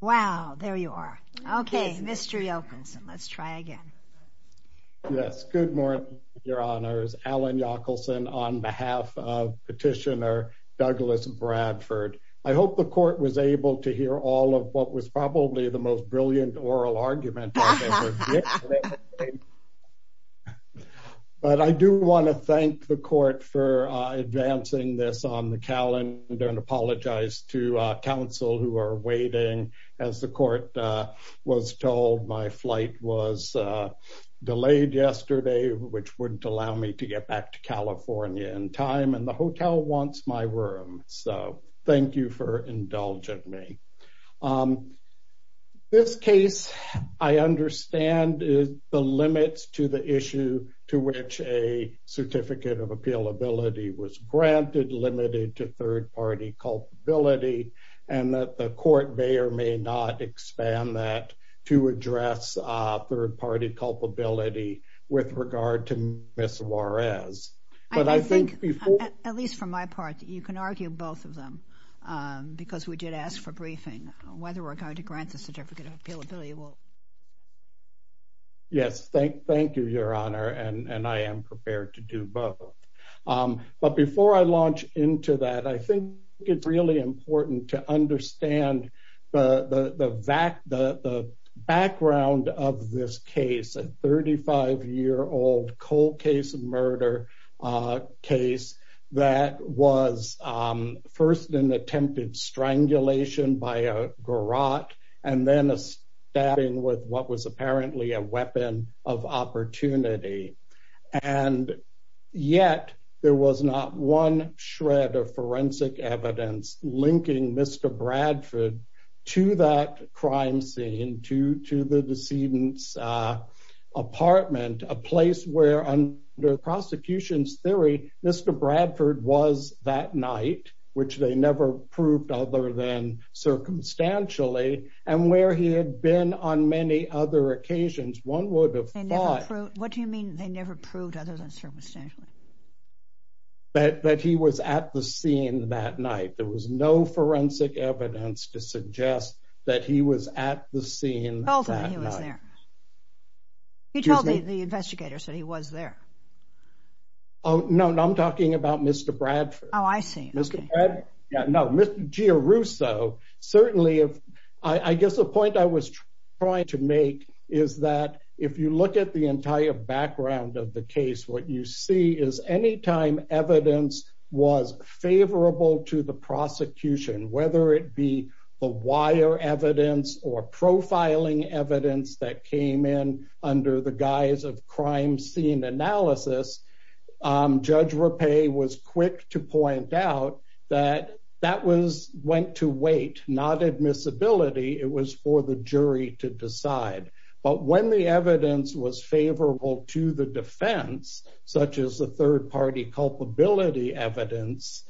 Wow, there you are. Okay, Mr. Yockelson, let's try again. Yes, good morning, your honors. Alan Yockelson on behalf of petitioner Douglas Bradford. I hope the court was able to hear all of what was probably the most brilliant oral argument I've ever heard. But I do want to thank the court for advancing this on the calendar and apologize to counsel who are waiting as the court was told my flight was delayed yesterday, which wouldn't allow me to get back to California in time and the hotel wants my room. So thank you for indulging me. This case, I understand the limits to the issue to which a certificate of appealability was granted limited to third party culpability and that the court may or may not expand that to address third party culpability with regard to Ms. Juarez. But I think- At least from my part, you can argue both of them because we did ask for briefing whether we're going to grant the certificate of appealability. Yes, thank you, your honor. And I am prepared to do both. But before I launch into that, I think it's really important to understand the background of this case, a 35 year old cold case of murder case that was first an attempted strangulation by a garrote and then a stabbing with what was apparently a weapon of opportunity. And yet there was not one shred of forensic evidence linking Mr. Bradford to that crime scene, to the decedent's apartment, a place where under prosecution's theory, Mr. Bradford was that night, which they never proved other than circumstantially and where he had been on many other occasions, one would have thought- What do you mean they never proved other than circumstantially? That he was at the scene that night. There was no forensic evidence to suggest that he was at the scene that night. You told them he was there. You told the investigators that he was there. Oh, no, I'm talking about Mr. Bradford. Oh, I see, okay. Mr. Bradford, no, Mr. Giarrusso, certainly if, I guess the point I was trying to make is that if you look at the entire background of the case, what you see is anytime evidence was favorable to the prosecution, whether it be the wire evidence or profiling evidence that came in under the guise of crime scene analysis, Judge Rappe was quick to point out that that went to wait, not admissibility, it was for the jury to decide. But when the evidence was favorable to the defense, such as the third-party culpability evidence,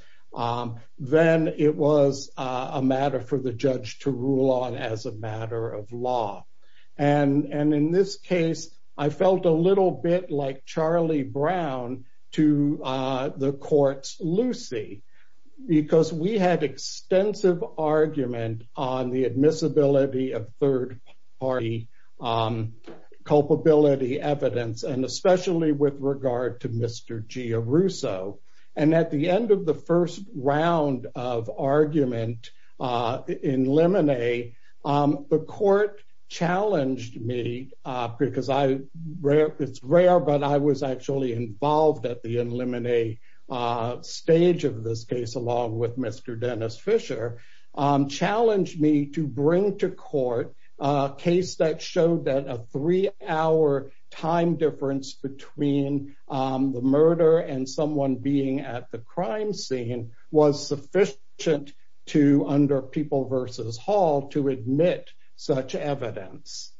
then it was a matter for the judge to rule on as a matter of law. And in this case, I felt a little bit like Charlie Brown to the court's Lucy because we had extensive argument on the admissibility of third-party culpability evidence, and especially with regard to Mr. Giarrusso. And at the end of the first round of argument in limine, the court challenged me because it's rare, but I was actually involved at the in limine stage of this case, along with Mr. Dennis Fisher, challenged me to bring to court a case that showed that a three-hour time difference between the murder and someone being at the crime scene was sufficient to under People v. Hall to admit such evidence.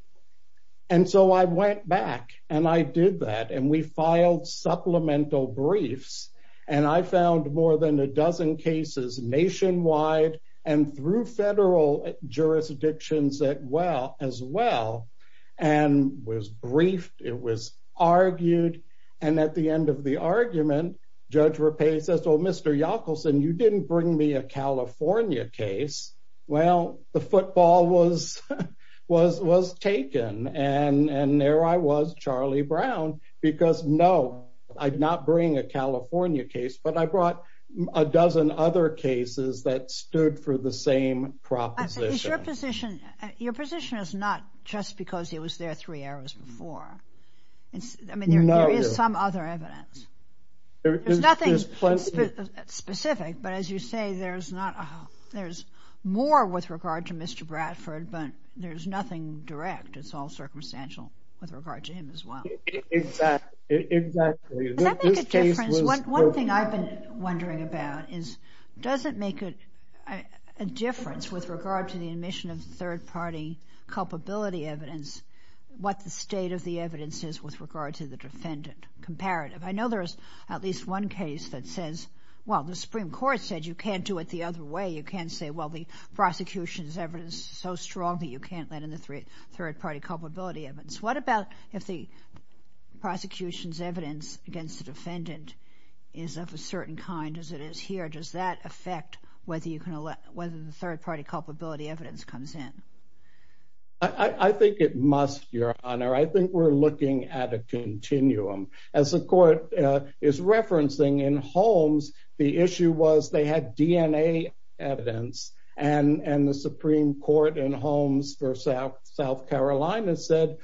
And so I went back and I did that and we filed supplemental briefs, and I found more than a dozen cases nationwide and through federal jurisdictions as well, and was briefed, it was argued. And at the end of the argument, Judge Rapace says, well, Mr. Yockelson, you didn't bring me a California case. Well, the football was taken, and there I was, Charlie Brown, because no, I'd not bring a California case, but I brought a dozen other cases that stood for the same proposition. Is your position, your position is not just because he was there three hours before. I mean, there is some other evidence. There's nothing specific, but as you say, there's more with regard to Mr. Bradford, but there's nothing direct. It's all circumstantial with regard to him as well. Exactly, exactly. Does that make a difference? One thing I've been wondering about is, does it make a difference with regard to the admission of third party culpability evidence, what the state of the evidence is with regard to the defendant comparative? I know there's at least one case that says, well, the Supreme Court said you can't do it the other way. You can't say, well, the prosecution's evidence is so strong that you can't let in the third party culpability evidence. What about if the prosecution's evidence against the defendant is of a certain kind as it is here? Does that affect whether the third party culpability evidence comes in? I think it must, Your Honor. I think we're looking at a continuum. As the court is referencing in Holmes, the issue was they had DNA evidence and the Supreme Court in Holmes for South Carolina said,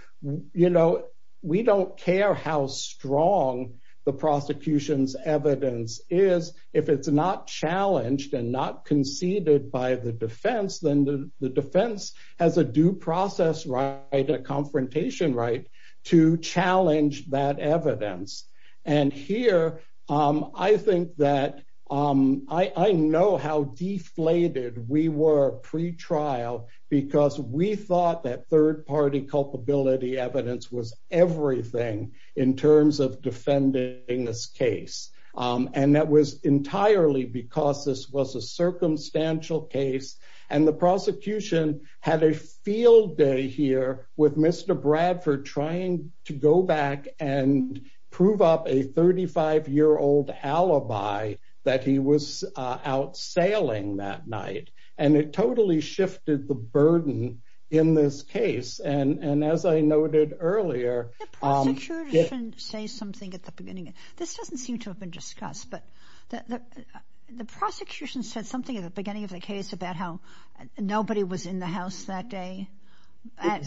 you know, we don't care how strong the prosecution's evidence is. If it's not challenged and not conceded by the defense, then the defense has a due process right, a confrontation right to challenge that evidence. And here, I think that I know how deflated we were pre-trial because we thought that third party culpability evidence was everything in terms of defending this case. And that was entirely because this was a circumstantial case and the prosecution had a field day here with Mr. Bradford trying to go back and prove up a 35 year old alibi that he was out sailing that night. And it totally shifted the burden in this case. And as I noted earlier- The prosecution said something at the beginning. This doesn't seem to have been discussed, but the prosecution said something at the beginning of the case about how nobody was in the house that day.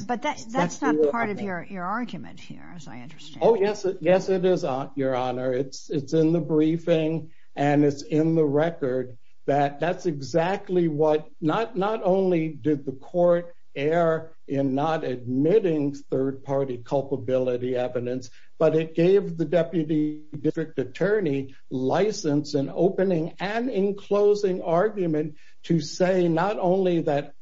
But that's not part of your argument here, as I understand. Oh, yes, it is, Your Honor. It's in the briefing and it's in the record that that's exactly what, not only did the court err in not admitting third party culpability evidence, but it gave the deputy district attorney license in opening and in closing argument to say not only that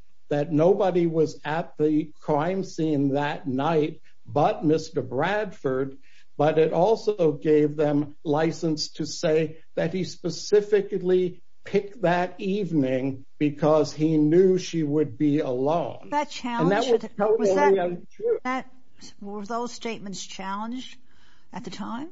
nobody was at the crime scene that night but Mr. Bradford, but it also gave them license to say that he specifically picked that evening because he knew she would be alone. That challenged- And that was totally untrue. Were those statements challenged at the time?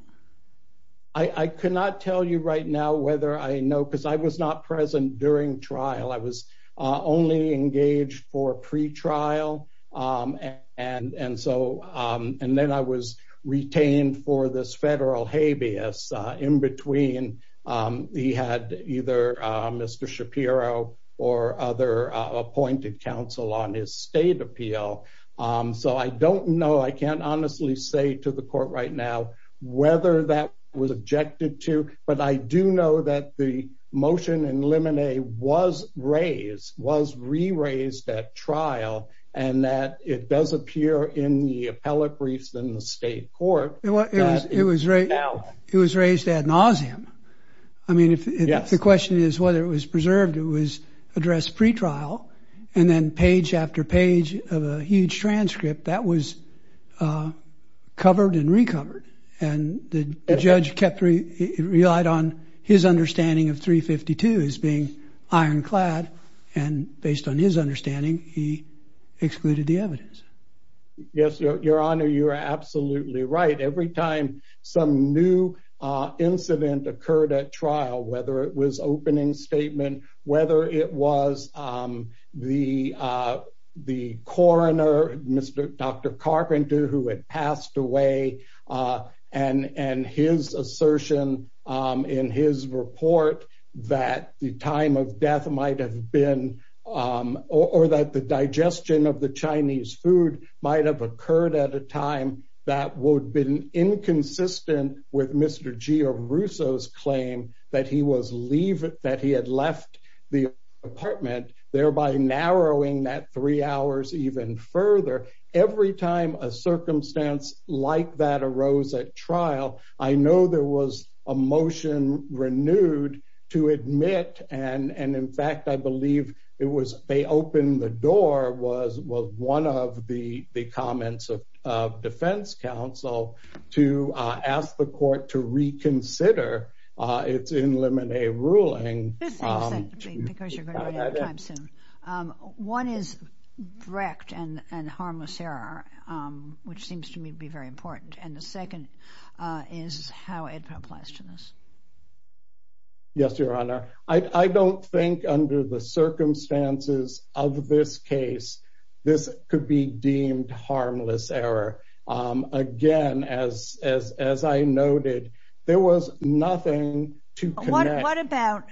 I cannot tell you right now whether I know, because I was not present during trial. I was only engaged for pre-trial. And then I was retained for this federal habeas in between he had either Mr. Shapiro or other appointed counsel on his state appeal. So I don't know. I can't honestly say to the court right now whether that was objected to, but I do know that the motion in limine was raised, was re-raised at trial, and that it does appear in the appellate briefs in the state court- It was raised ad nauseum. I mean, if the question is whether it was preserved, it was addressed pre-trial. And then page after page of a huge transcript, that was covered and recovered. And the judge relied on his understanding of 352 as being ironclad. And based on his understanding, he excluded the evidence. Yes, Your Honor, you are absolutely right. Every time some new incident occurred at trial, whether it was opening statement, whether it was the coroner, Dr. Carpenter, who had passed away, and his assertion in his report that the time of death might have been, or that the digestion of the Chinese food might have occurred at a time that would have been inconsistent with Mr. Giarrusso's claim that he was leaving, that he had left the apartment, thereby narrowing that three hours even further. Every time a circumstance like that arose at trial, I know there was a motion renewed to admit, and in fact, I believe it was, they opened the door, was one of the comments of defense counsel to ask the court to reconsider its in limine ruling. This is exactly because you're running out of time soon. One is direct and harmless error, which seems to me to be very important. And the second is how it applies to this. Yes, Your Honor. I don't think under the circumstances of this case, this could be deemed harmless error. Again, as I noted, there was nothing to connect. What about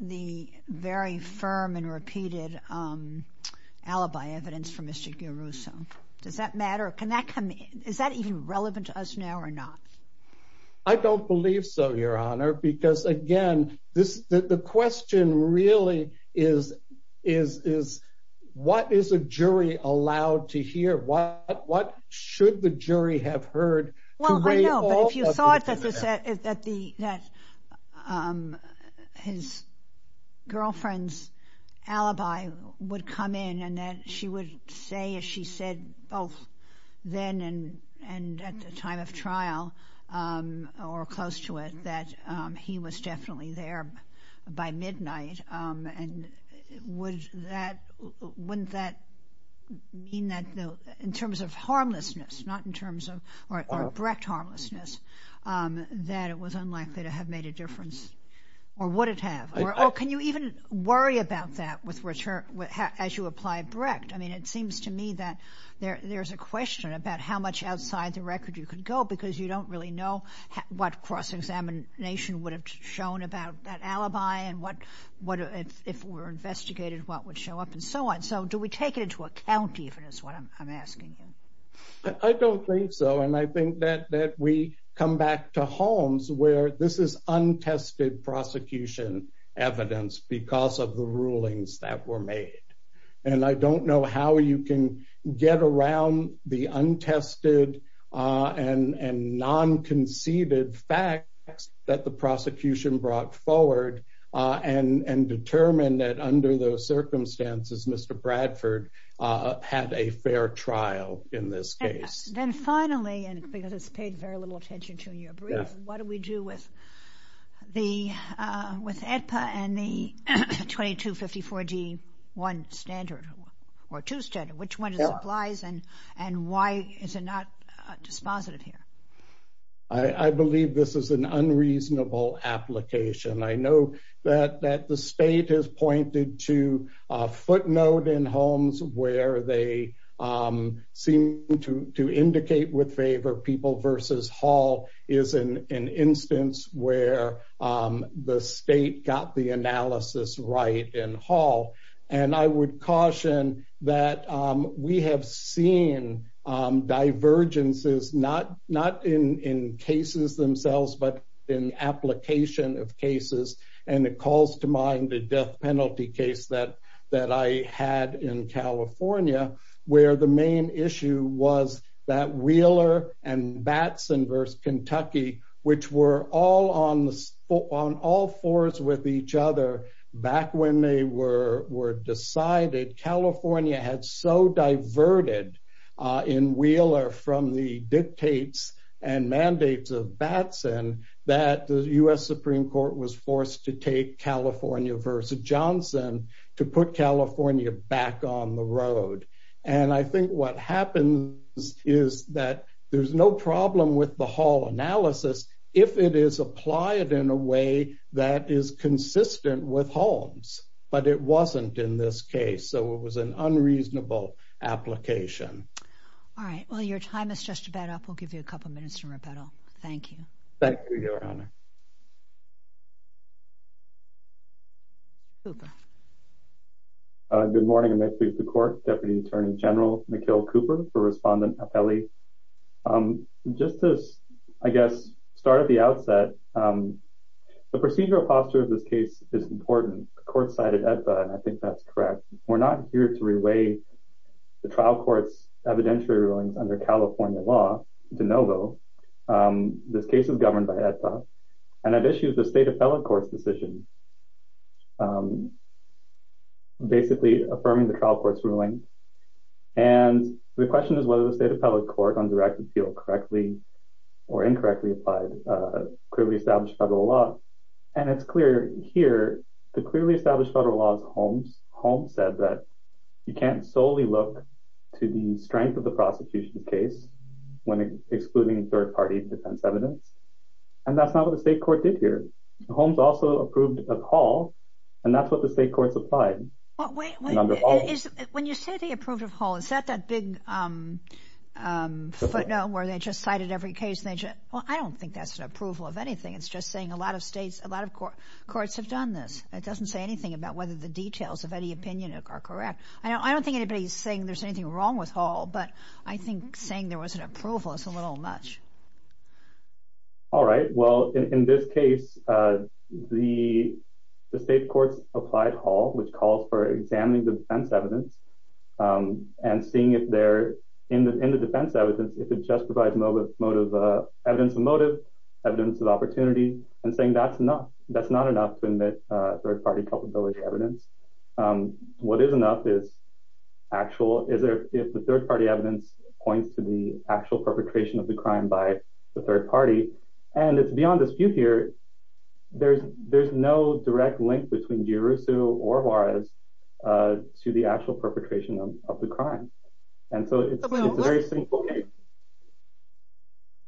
the very firm and repeated alibi evidence from Mr. Giarrusso? Does that matter? Can that come in? Is that even relevant to us now or not? I don't believe so, Your Honor, because again, the question really is, what is a jury allowed to hear? What should the jury have heard? Well, I know, but if you thought that his girlfriend's alibi would come in and that she would say, as she said, both then and at the time of trial or close to it, that he was definitely there by midnight, and wouldn't that mean that in terms of harmlessness, not in terms of Brecht harmlessness, that it was unlikely to have made a difference? Or would it have? Can you even worry about that as you apply Brecht? I mean, it seems to me that there's a question about how much outside the record you could go because you don't really know what cross-examination would have shown about that alibi and if it were investigated, what would show up and so on. So do we take it into account even is what I'm asking you? I don't think so. And I think that we come back to homes where this is untested prosecution evidence because of the rulings that were made. And I don't know how you can get around the untested and non-conceded facts that the prosecution brought forward and determined that under those circumstances, Mr. Bradford had a fair trial in this case. Then finally, and because it's paid very little attention to in your brief, what do we do with the, with AEDPA and the 2254G1 standard or two standard? Which one applies and why is it not dispositive here? I believe this is an unreasonable application. I know that the state has pointed to a footnote in homes where they seem to indicate with favor people versus Hall is an instance where the state got the analysis right in Hall. And I would caution that we have seen divergences not in cases themselves, but in application of cases. And it calls to mind the death penalty case that I had in California where the main issue was that Wheeler and Batson versus Kentucky, which were all on all fours with each other back when they were decided, California had so diverted in Wheeler from the dictates and mandates of Batson that the US Supreme Court was forced to take California versus Johnson to put California back on the road. And I think what happens is that there's no problem with the Hall analysis if it is applied in a way that is consistent with homes, but it wasn't in this case. So it was an unreasonable application. All right. Well, your time is just about up. We'll give you a couple of minutes to rebuttal. Thank you. Thank you, your honor. Cooper. Good morning. I'm actually the court deputy attorney general, Mikhail Cooper for respondent appellee. Just to, I guess, start at the outset, the procedural posture of this case is important. The court cited ETA, and I think that's correct. We're not here to reweigh the trial court's evidentiary rulings under California law de novo. This case is governed by ETA, and it issues the state appellate court's decision, basically affirming the trial court's ruling. And the question is whether the state appellate court under active appeal correctly or incorrectly applied clearly established federal law. And it's clear here, the clearly established federal law is Holmes. Holmes said that you can't solely look to the strength of the prosecution case when excluding third-party defense evidence. And that's not what the state court did here. Holmes also approved of Hall, But wait, when you say they approved of Hall, is that that big footnote where they just cited every case? Well, I don't think that's an approval of anything. It's just saying a lot of states, a lot of courts have done this. It doesn't say anything about whether the details of any opinion are correct. I don't think anybody's saying there's anything wrong with Hall, but I think saying there was an approval is a little much. All right. Well, in this case, the state court's applied Hall, which calls for examining the defense evidence, and seeing if there, in the defense evidence, if it just provides evidence of motive, evidence of opportunity, and saying that's enough. That's not enough to admit third-party culpability evidence. What is enough is actual, is if the third-party evidence points to the actual perpetration of the crime by the third party. And it's beyond dispute here. There's no direct link between Deiruzzo or Juarez to the actual perpetration of the crime. And so it's a very simple case.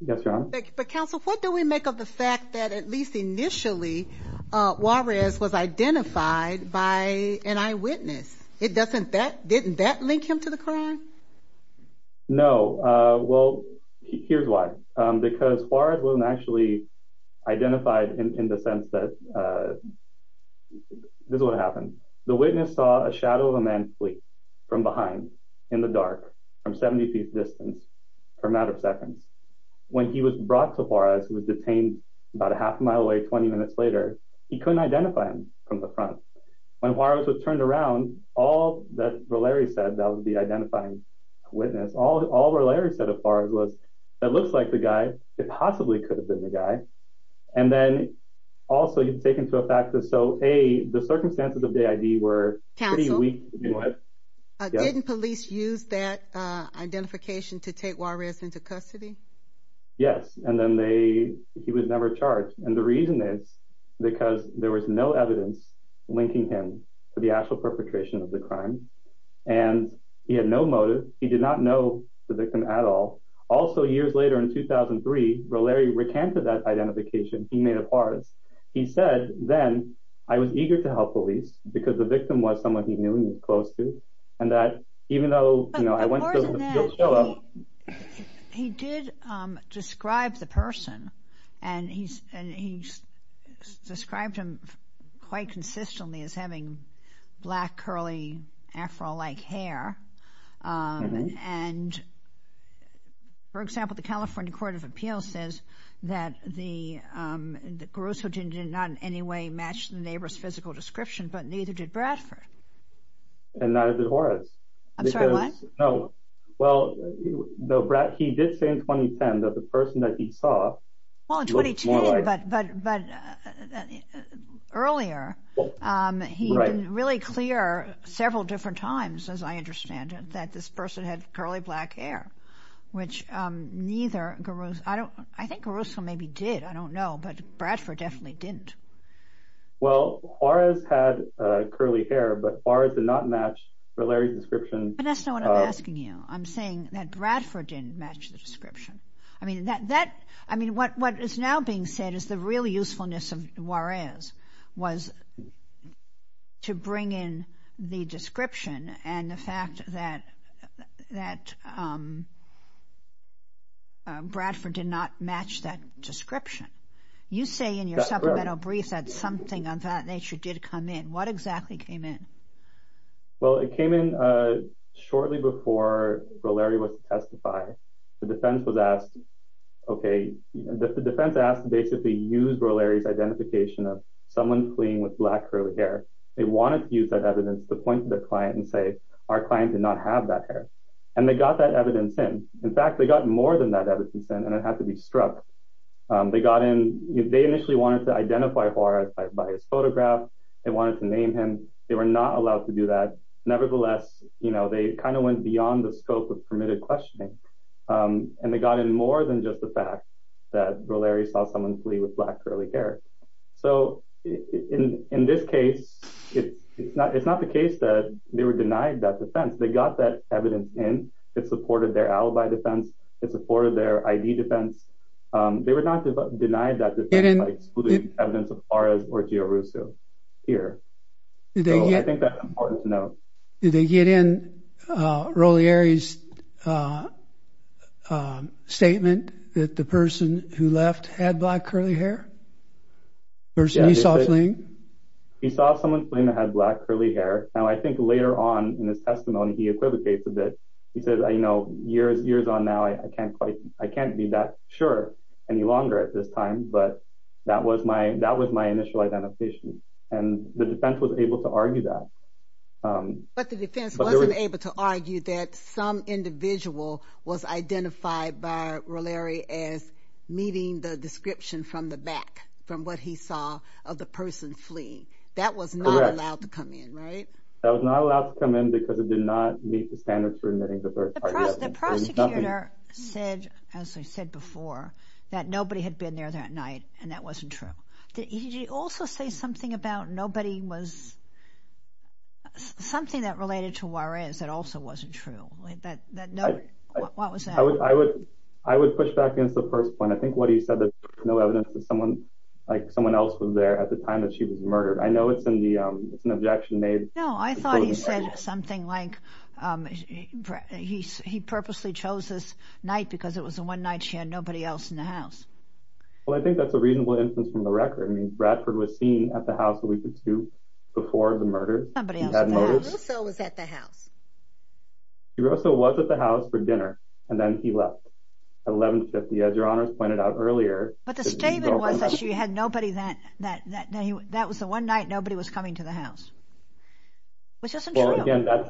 Yes, Your Honor. But counsel, what do we make of the fact that at least initially, Juarez was identified by an eyewitness? It doesn't, didn't that link him to the crime? No. Well, here's why. Because Juarez wasn't actually identified in the sense that, this is what happened. The witness saw a shadow of a man flee from behind, in the dark, from 70 feet distance, for a matter of seconds. When he was brought to Juarez, he was detained about a half a mile away, 20 minutes later, he couldn't identify him from the front. When Juarez was turned around, all that Valeri said that would be identifying a witness, all Valeri said of Juarez was, that looks like the guy, it possibly could have been the guy. And then also you take into effect that, so A, the circumstances of the ID were pretty weak. Counsel, didn't police use that identification to take Juarez into custody? Yes, and then they, he was never charged. And the reason is, because there was no evidence linking him to the actual perpetration of the crime. And he had no motive, he did not know the victim at all. Also years later in 2003, Valeri recanted that identification he made of Juarez. He said, then, I was eager to help police, because the victim was someone he knew and was close to. And that even though, you know, I went to the field show up. He did describe the person, and he described him quite consistently as having black, curly, afro-like hair. And for example, the California Court of Appeals says that the, that Garuso did not in any way match the neighbor's physical description, but neither did Bradford. And neither did Juarez. I'm sorry, what? No, well, he did say in 2010 that the person that he saw. Well, in 2010, but earlier, he was really clear several different times, as I understand it, that this person had curly black hair, which neither, Garuso, I don't, Garuso maybe did, I don't know, but Bradford definitely didn't. Well, Juarez had curly hair, but Juarez did not match Valeri's description. Vanessa, what I'm asking you, I'm saying that Bradford didn't match the description. I mean, that, I mean, what is now being said is the real usefulness of Juarez was to bring in the description and the fact that, that Bradford did not match that description. You say in your supplemental brief that something of that nature did come in. What exactly came in? Well, it came in shortly before Valeri was to testify. The defense was asked, okay, the defense asked basically use Valeri's identification of someone playing with black curly hair. They wanted to use that evidence to point to their client and say, our client did not have that hair. And they got that evidence in. In fact, they got more than that evidence in, and it had to be struck. They got in, they initially wanted to identify Juarez by his photograph. They wanted to name him. They were not allowed to do that. Nevertheless, you know, they kind of went beyond the scope of permitted questioning. And they got in more than just the fact that Valeri saw someone play with black curly hair. So in this case, it's not the case that they were denied that defense. They got that evidence in. It supported their alibi defense. It supported their ID defense. They were not denied that defense by excluding evidence of Flores or Giarrusso here. So I think that's important to know. Did they get in Valeri's statement that the person who left had black curly hair? The person he saw fleeing? He saw someone fleeing that had black curly hair. Now, I think later on in his testimony, he equivocates a bit. He says, you know, years on now, I can't be that sure any longer at this time, but that was my initial identification. And the defense was able to argue that. But the defense wasn't able to argue that some individual was identified by Valeri as meeting the description from the back from what he saw of the person fleeing. That was not allowed to come in, right? That was not allowed to come in because it did not meet the standards for admitting the person. The prosecutor said, as I said before, that nobody had been there that night, and that wasn't true. Did he also say something about nobody was, something that related to Juarez that also wasn't true? Like that no, what was that? I would push back against the first point. I think what he said that there's no evidence that someone, like someone else was there at the time that she was murdered. I know it's an objection made. No, I thought he said something like, he purposely chose this night because it was the one night she had nobody else in the house. Well, I think that's a reasonable instance from the record. I mean, Bradford was seen at the house a week or two before the murder. Somebody else was at the house. DeRusso was at the house. DeRusso was at the house for dinner, and then he left. At 11.50, as your honors pointed out earlier. But the statement was that she had nobody that, that was the one night nobody was coming to the house. Which isn't true. Again, that's,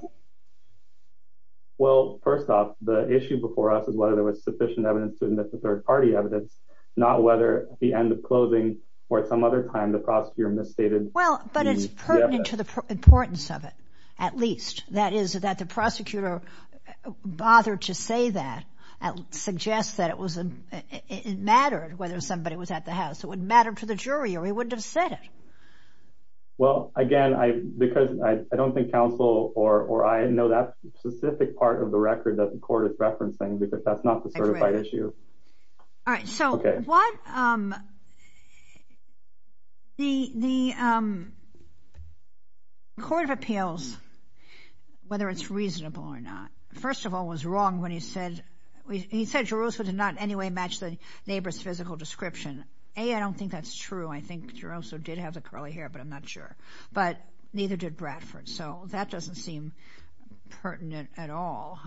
well, first off the issue before us is whether there was sufficient evidence to admit to third party evidence, not whether at the end of closing or at some other time the prosecutor misstated. Well, but it's pertinent to the importance of it, at least. That is that the prosecutor bothered to say that, suggests that it was, it mattered whether somebody was at the house. It would matter to the jury or he wouldn't have said it. Well, again, I, because I don't think counsel or I know that specific part of the record that the court is referencing because that's not the certified issue. All right, so what, the court of appeals, whether it's reasonable or not, first of all was wrong when he said, he said DeRusso did not in any way match the neighbor's physical description. A, I don't think that's true. I think DeRusso did have the curly hair, but I'm not sure, but neither did Bradford. So that doesn't seem pertinent at all.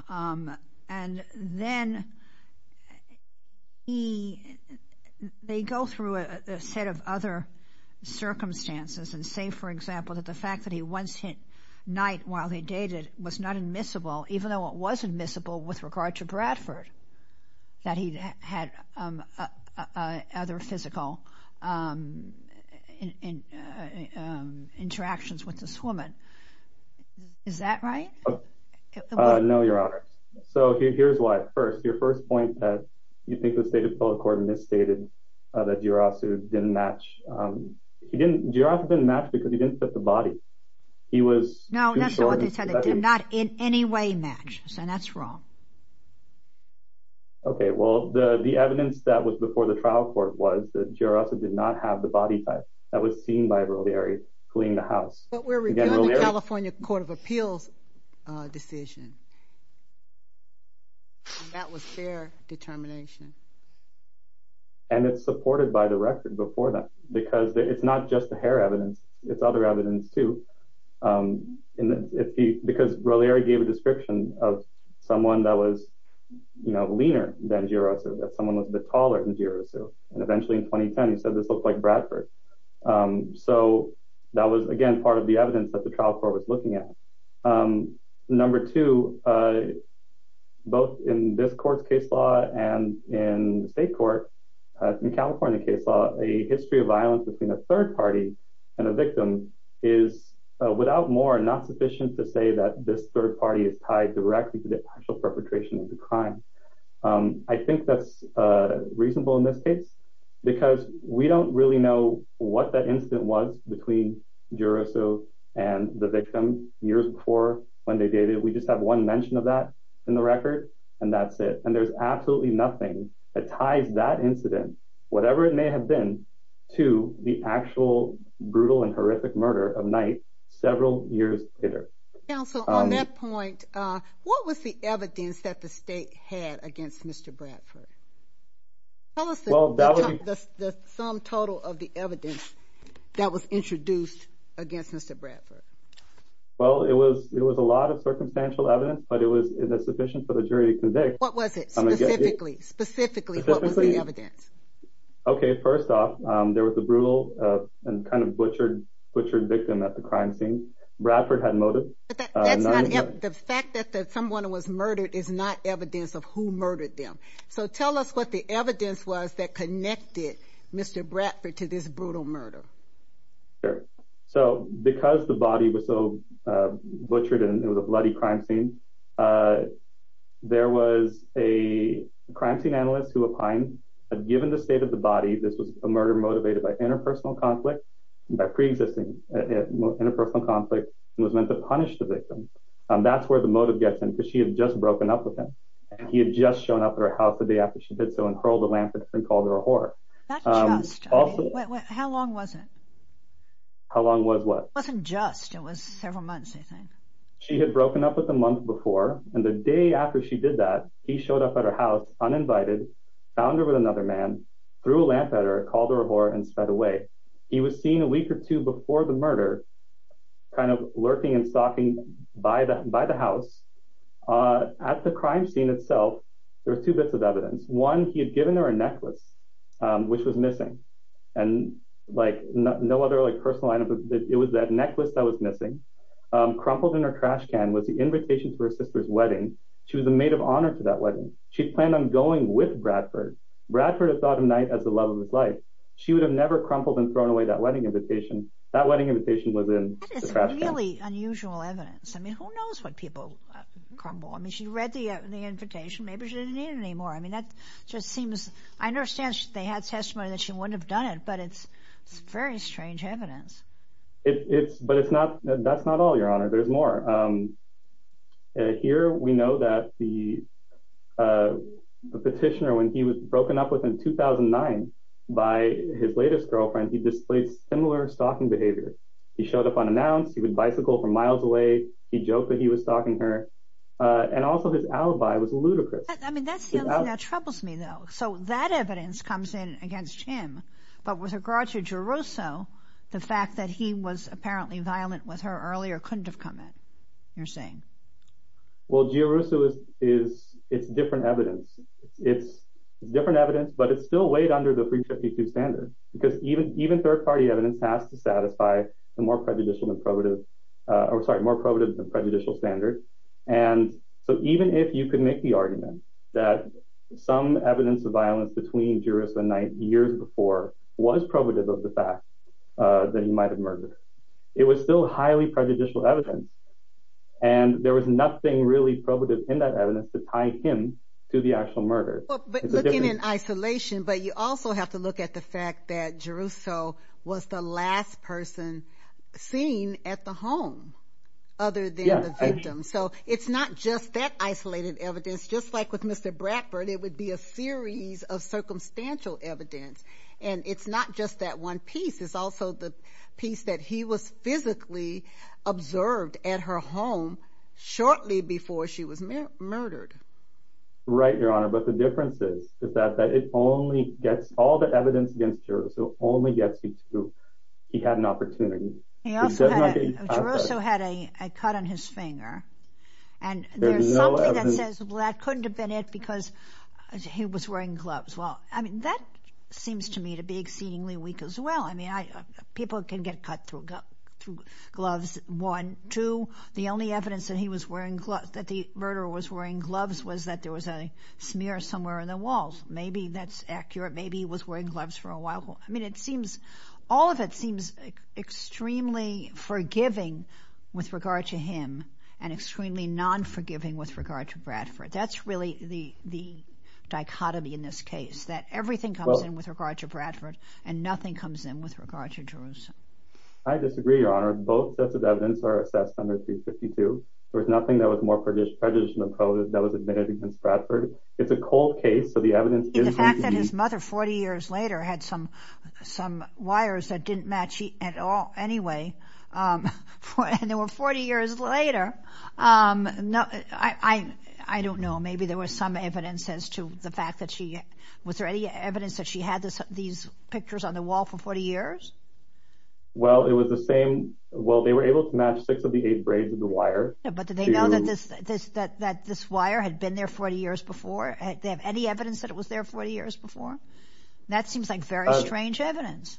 And then he, they go through a set of other circumstances and say, for example, that the fact that he once hit night while they dated was not admissible, even though it was admissible with regard to Bradford, that he'd had other physical interactions with this woman. Is that right? No, Your Honor. So here's why. First, your first point that you think the state of public court misstated that DeRusso didn't match. He didn't, DeRusso didn't match because he didn't fit the body. He was- No, that's not what they said. It did not in any way match, so that's wrong. Okay, well, the evidence that was before the trial court was that DeRusso did not have the body type that was seen by Brolieri fleeing the house. But we're reviewing the California Court of Appeals decision. That was their determination. And it's supported by the record before that, because it's not just the hair evidence, it's other evidence too. Because Brolieri gave a description of someone that was leaner than DeRusso, that someone was a bit taller than DeRusso. And eventually in 2010, he said this looked like Bradford. So that was, again, part of the evidence that the trial court was looking at. Number two, both in this court's case law and in the state court, in California case law, a history of violence between a third party and a victim is, without more, not sufficient to say that this third party is tied directly to the actual perpetration of the crime. I think that's reasonable in this case, because we don't really know what that incident was between DeRusso and the victim years before when they dated. We just have one mention of that in the record, and that's it. And there's absolutely nothing that ties that incident, whatever it may have been, to the actual brutal and horrific murder of Knight several years later. Council, on that point, what was the evidence that the state had against Mr. Bradford? Tell us the sum total of the evidence that was introduced against Mr. Bradford. Well, it was a lot of circumstantial evidence, but it was sufficient for the jury to convict. What was it, specifically? Specifically, what was the evidence? Okay, first off, there was a brutal and kind of butchered victim at the crime scene. Bradford had motive. But that's not, the fact that someone was murdered is not evidence of who murdered them. So tell us what the evidence was that connected Mr. Bradford to this brutal murder. Sure, so because the body was so butchered and it was a bloody crime scene, there was a crime scene analyst who opined that given the state of the body, this was a murder motivated by interpersonal conflict by preexisting interpersonal conflict and was meant to punish the victim. That's where the motive gets in because she had just broken up with him. And he had just shown up at her house the day after she did so and hurled a lamp at her and called her a whore. Not just, how long was it? How long was what? It wasn't just, it was several months, I think. She had broken up with him months before. And the day after she did that, he showed up at her house uninvited, found her with another man, threw a lamp at her, called her a whore and sped away. He was seen a week or two before the murder kind of lurking and stalking by the house. At the crime scene itself, there were two bits of evidence. One, he had given her a necklace, which was missing. And like no other personal item, it was that necklace that was missing. Crumpled in her trash can was the invitation for her sister's wedding. She was a maid of honor to that wedding. She planned on going with Bradford. Bradford had thought of Knight as the love of his life. She would have never crumpled and thrown away that wedding invitation. That wedding invitation was in the trash can. That is really unusual evidence. I mean, who knows what people crumple? I mean, she read the invitation. Maybe she didn't need it anymore. I mean, that just seems, I understand they had testimony that she wouldn't have done it, but it's very strange evidence. But it's not, that's not all, Your Honor. There's more. Here, we know that the petitioner, when he was broken up with in 2009 by his latest girlfriend, he displayed similar stalking behavior. He showed up unannounced. He would bicycle from miles away. He joked that he was stalking her. And also his alibi was ludicrous. I mean, that's the other thing that troubles me, though. So that evidence comes in against him. But with regard to Giarrusso, the fact that he was apparently violent with her earlier couldn't have come in, you're saying. Well, Giarrusso is, it's different evidence. It's different evidence, but it's still weighed under the 352 standard because even third-party evidence has to satisfy the more prejudicial than probative, or sorry, more probative than prejudicial standard. And so even if you could make the argument that some evidence of violence between Giarrusso and Knight years before was probative of the fact that he might have murdered, it was still highly prejudicial evidence. And there was nothing really probative in that evidence to tie him to the actual murder. But looking in isolation, but you also have to look at the fact that Giarrusso was the last person seen at the home other than the victim. So it's not just that isolated evidence, just like with Mr. Bradford, it would be a series of circumstantial evidence. And it's not just that one piece, it's also the piece that he was physically observed at her home shortly before she was murdered. Right, Your Honor. But the difference is the fact that it only gets, all the evidence against Giarrusso only gets you to, he had an opportunity. He also had, Giarrusso had a cut on his finger and there's something that says, well, that couldn't have been it because he was wearing gloves. Well, I mean, that seems to me to be exceedingly weak as well. I mean, people can get cut through gloves, one. Two, the only evidence that he was wearing gloves, that the murderer was wearing gloves was that there was a smear somewhere in the walls. Maybe that's accurate. Maybe he was wearing gloves for a while. I mean, it seems, all of it seems extremely forgiving with regard to him and extremely non-forgiving with regard to Bradford. That's really the dichotomy in this case, that everything comes in with regard to Bradford and nothing comes in with regard to Giarrusso. I disagree, Your Honor. Both sets of evidence are assessed under 352. There was nothing that was more prejudiced than what was admitted against Bradford. It's a cold case. So the evidence is- The fact that his mother, 40 years later, had some wires that didn't match at all anyway, and they were 40 years later. I don't know. Maybe there was some evidence as to the fact that she, was there any evidence that she had these pictures on the wall for 40 years? Well, it was the same. Well, they were able to match six of the eight braids of the wire. But did they know that this wire had been there 40 years before? They have any evidence that it was there 40 years before? That seems like very strange evidence.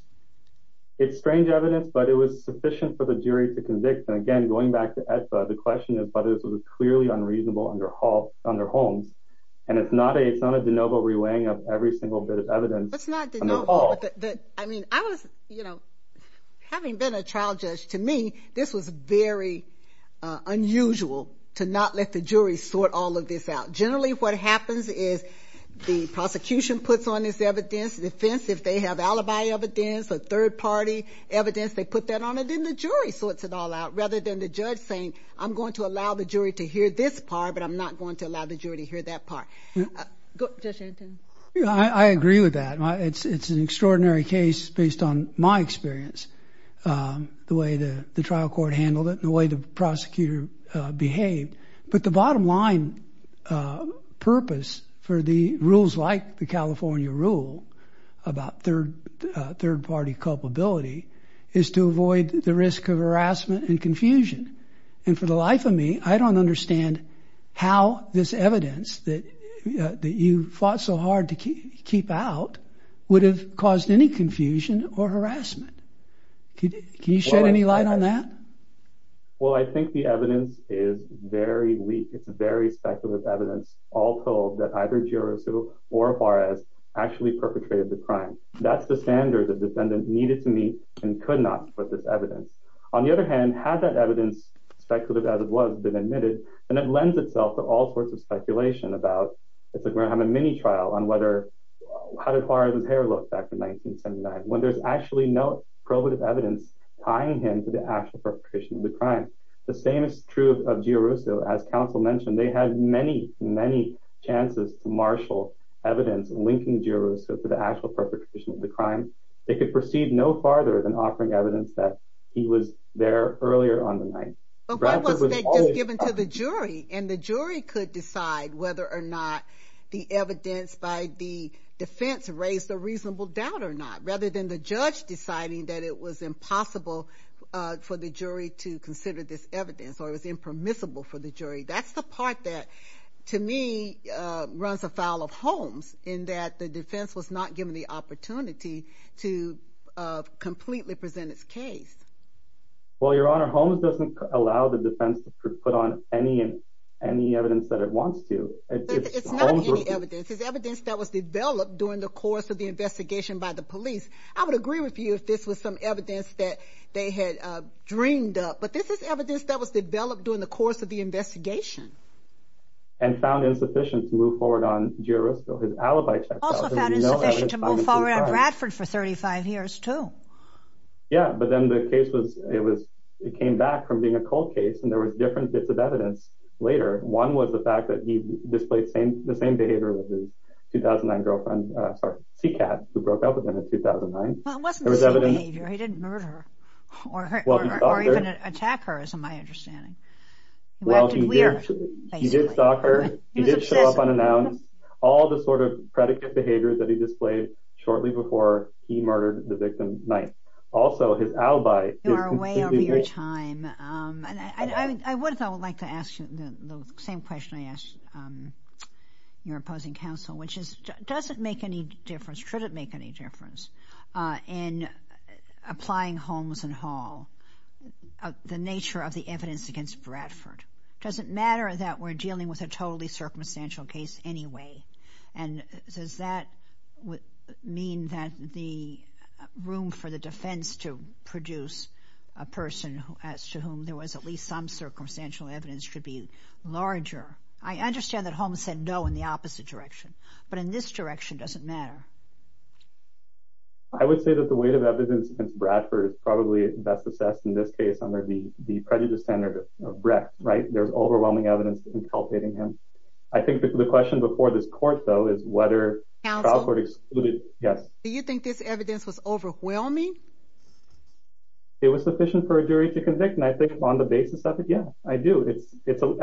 It's strange evidence, but it was sufficient for the jury to convict. And again, going back to EDSA, the question is whether this was clearly unreasonable under Holmes. And it's not a de novo reweighing of every single bit of evidence. That's not de novo. I mean, I was, you know, having been a trial judge, to me, this was very unusual to not let the jury sort all of this out. Generally, what happens is the prosecution puts on this evidence, defense, if they have alibi evidence, or third party evidence, they put that on it, and then the jury sorts it all out, rather than the judge saying, I'm going to allow the jury to hear this part, but I'm not going to allow the jury to hear that part. Judge Anton. Yeah, I agree with that. It's an extraordinary case based on my experience, the way the trial court handled it, and the way the prosecutor behaved. But the bottom line purpose for the rules like the California rule about third party culpability is to avoid the risk of harassment and confusion. And for the life of me, I don't understand how this evidence that you fought so hard to keep out would have caused any confusion or harassment. Can you shed any light on that? Well, I think the evidence is very weak. It's very speculative evidence, all told that either Girasu or Juarez actually perpetrated the crime. That's the standard the defendant needed to meet and could not with this evidence. On the other hand, had that evidence, speculative as it was, been admitted, then it lends itself to all sorts of speculation about, it's like we're going to have a mini trial on how did Juarez's hair look back to 1979, when there's actually no probative evidence tying him to the actual perpetration of the crime. The same is true of Girasu, as counsel mentioned, they had many, many chances to marshal evidence linking Girasu to the actual perpetration of the crime. They could proceed no farther than offering evidence that he was there earlier on the night. But why wasn't that just given to the jury? And the jury could decide whether or not the evidence by the defense raised a reasonable doubt rather than the judge deciding that it was impossible for the jury to consider this evidence or it was impermissible for the jury. That's the part that to me runs afoul of Holmes in that the defense was not given the opportunity to completely present its case. Well, your honor, Holmes doesn't allow the defense to put on any evidence that it wants to. It's not any evidence, it's evidence that was developed during the course of the investigation by the police. I would agree with you if this was some evidence that they had dreamed up, but this is evidence that was developed during the course of the investigation. And found insufficient to move forward on Girasu, his alibi checks out. Also found insufficient to move forward on Bradford for 35 years too. Yeah, but then the case was, it was, it came back from being a cold case and there was different bits of evidence later. One was the fact that he displayed the same behavior with his 2009 girlfriend, sorry, Seacat, who broke up with him in 2009. Well, it wasn't the same behavior. He didn't murder her or even attack her is my understanding. Well, he did stalk her. He did show up unannounced. All the sort of predicate behaviors that he displayed shortly before he murdered the victim's wife. Also his alibi is completely different. You are way over your time. And I would like to ask you the same question I asked your opposing counsel, which is, does it make any difference, should it make any difference in applying Holmes and Hall, the nature of the evidence against Bradford? Does it matter that we're dealing with a totally circumstantial case anyway? And does that mean that the room for the defense to produce a person as to whom there was at least some circumstantial evidence should be larger? I understand that Holmes said no in the opposite direction, but in this direction, does it matter? I would say that the weight of evidence against Bradford is probably best assessed in this case under the prejudice standard of Brett, right? There's overwhelming evidence inculpating him. I think the question before this court though is whether- Counsel? Yes. Do you think this evidence was overwhelming? It was sufficient for a jury to convict. And I think on the basis of it, yeah, I do.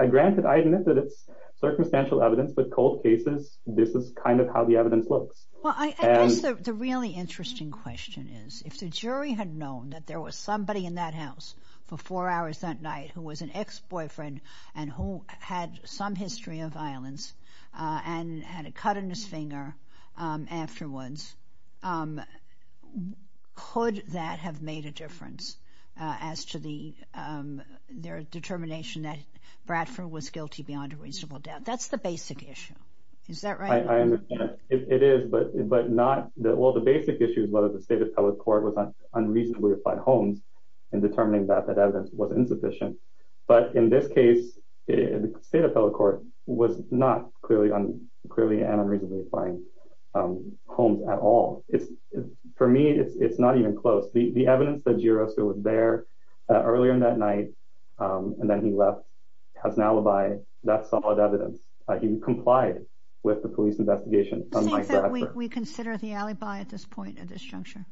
Granted, I admit that it's circumstantial evidence, but cold cases, this is kind of how the evidence looks. Well, I guess the really interesting question is if the jury had known that there was somebody in that house for four hours that night who was an ex-boyfriend and who had some history of violence and had a cut in his finger afterwards, could that have made a difference as to their determination that Bradford was guilty beyond a reasonable doubt? That's the basic issue. Is that right? I understand. It is, but not... Well, the basic issue is whether the state appellate court was unreasonably applying Holmes in determining that that evidence was insufficient. But in this case, the state appellate court was not clearly and unreasonably applying Holmes at all. For me, it's not even close. The evidence that Giroir was there earlier in that night and then he left has an alibi. That's solid evidence. He complied with the police investigation. Do you think that we consider the alibi at this point at this juncture?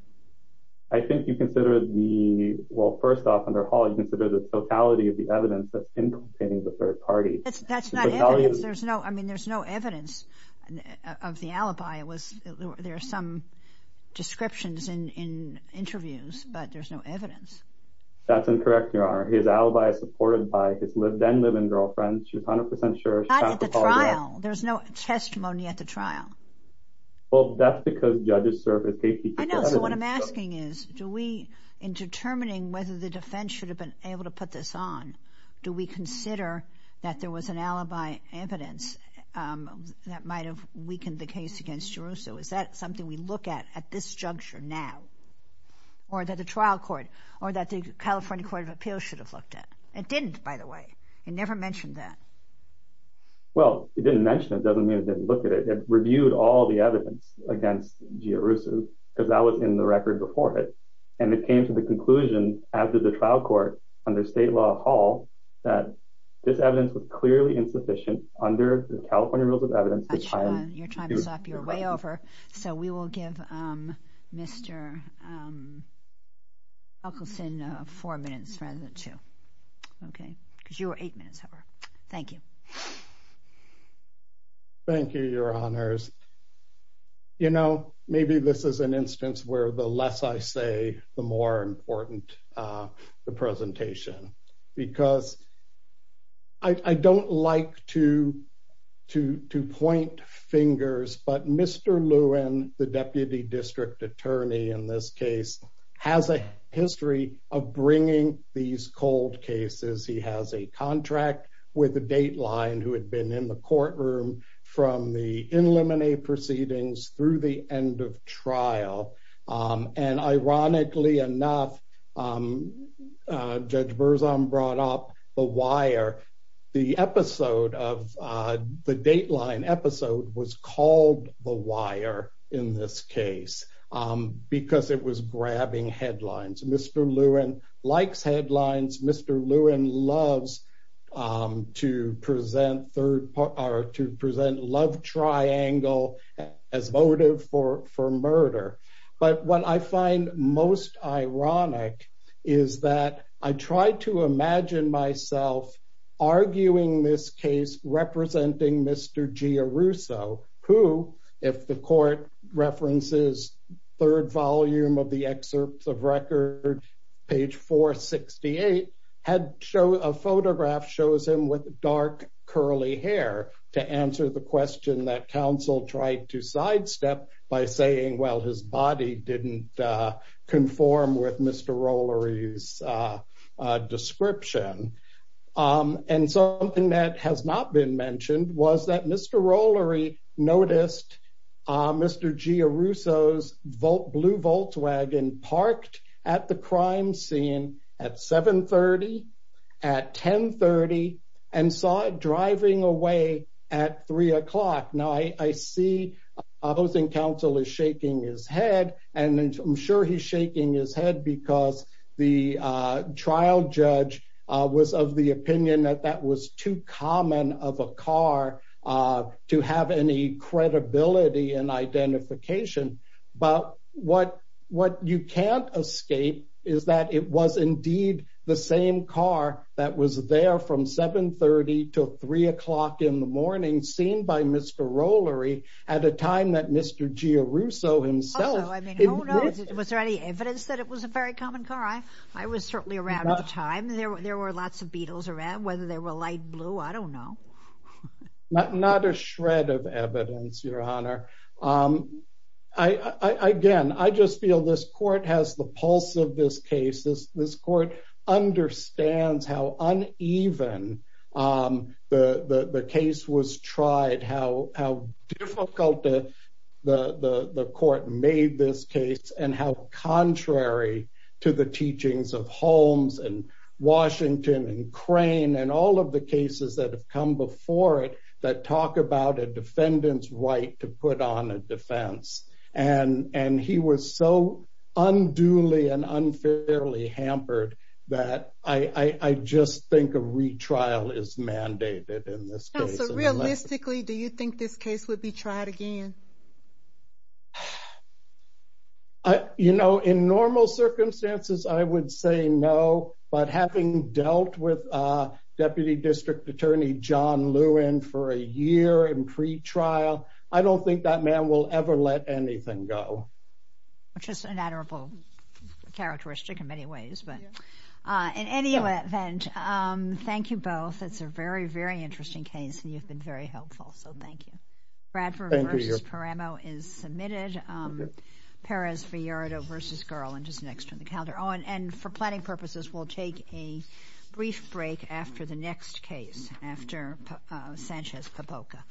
I think you consider the... Well, first off, under Hall, you consider the totality of the evidence that's implicating the third party. That's not evidence. I mean, there's no evidence of the alibi. There are some descriptions in interviews, but there's no evidence. That's incorrect, Your Honor. His alibi is supported by his then live-in girlfriend. She's 100% sure. She's not at the trial. There's no testimony at the trial. Well, that's because judges serve a safety... I know, so what I'm asking is, do we, in determining whether the defense should have been able to put this on, do we consider that there was an alibi evidence that might have weakened the case against Giarusso? Is that something we look at at this juncture now? Or that the trial court, or that the California Court of Appeals should have looked at? It didn't, by the way. It never mentioned that. Well, it didn't mention it doesn't mean it didn't look at it. It reviewed all the evidence against Giarusso because that was in the record before it. And it came to the conclusion after the trial court under state law of Hall that this evidence was clearly insufficient under the California Rules of Evidence. Your time is up. You're way over. So we will give Mr. Huckelson four minutes rather than two. Okay, because you were eight minutes over. Thank you. Thank you, your honors. You know, maybe this is an instance where the less I say, the more important the presentation because I don't like to point fingers, but Mr. Lewin, the deputy district attorney in this case has a history of bringing these cold cases. He has a contract with a dateline who had been in the courtroom from the in limine proceedings through the end of trial. And ironically enough, Judge Berzon brought up the wire. The episode of the dateline episode was called the wire in this case because it was grabbing headlines. Mr. Lewin likes headlines. Mr. Lewin loves to present third part or to present love triangle as motive for murder. But what I find most ironic is that I tried to imagine myself arguing this case representing Mr. Giarrusso who if the court references third volume of the excerpts of record page 468, a photograph shows him with dark curly hair to answer the question that counsel tried to sidestep by saying, well, his body didn't conform with Mr. Rollery's description. And something that has not been mentioned was that Mr. Rollery noticed Mr. Giarrusso's blue Volkswagen parked at the crime scene at 7.30, at 10.30 and saw it driving away at three o'clock. Now I see opposing counsel is shaking his head and I'm sure he's shaking his head because the trial judge was of the opinion that that was too common of a car to have any credibility and identification. But what you can't escape is that it was indeed the same car that was there from 7.30 till three o'clock in the morning seen by Mr. Rollery at a time that Mr. Giarrusso himself- Also, I mean, was there any evidence that it was a very common car? I was certainly around at the time. There were lots of beetles around, whether they were light blue, I don't know. Not a shred of evidence, Your Honor. I, again, I just feel this court has the pulse of this case. This court understands how uneven the case was tried, how difficult the court made this case and how contrary to the teachings of Holmes and Washington and Crane and all of the cases that have come before it that talk about a defendant's right to put on a defense. And he was so unduly and unfairly hampered that I just think a retrial is mandated in this case. So realistically, do you think this case would be tried again? You know, in normal circumstances, I would say no, but having dealt with Deputy District Attorney John Lewin for a year in pretrial, I don't think that man will ever let anything go. Which is an admirable characteristic in many ways, but in any event, thank you both. It's a very, very interesting case and you've been very helpful, so thank you. Bradford v. Paramo is submitted. Perez-Villardo v. Garland is next on the calendar. Oh, and for planning purposes, we'll take a brief break after the next case, after Sanchez-Papoca.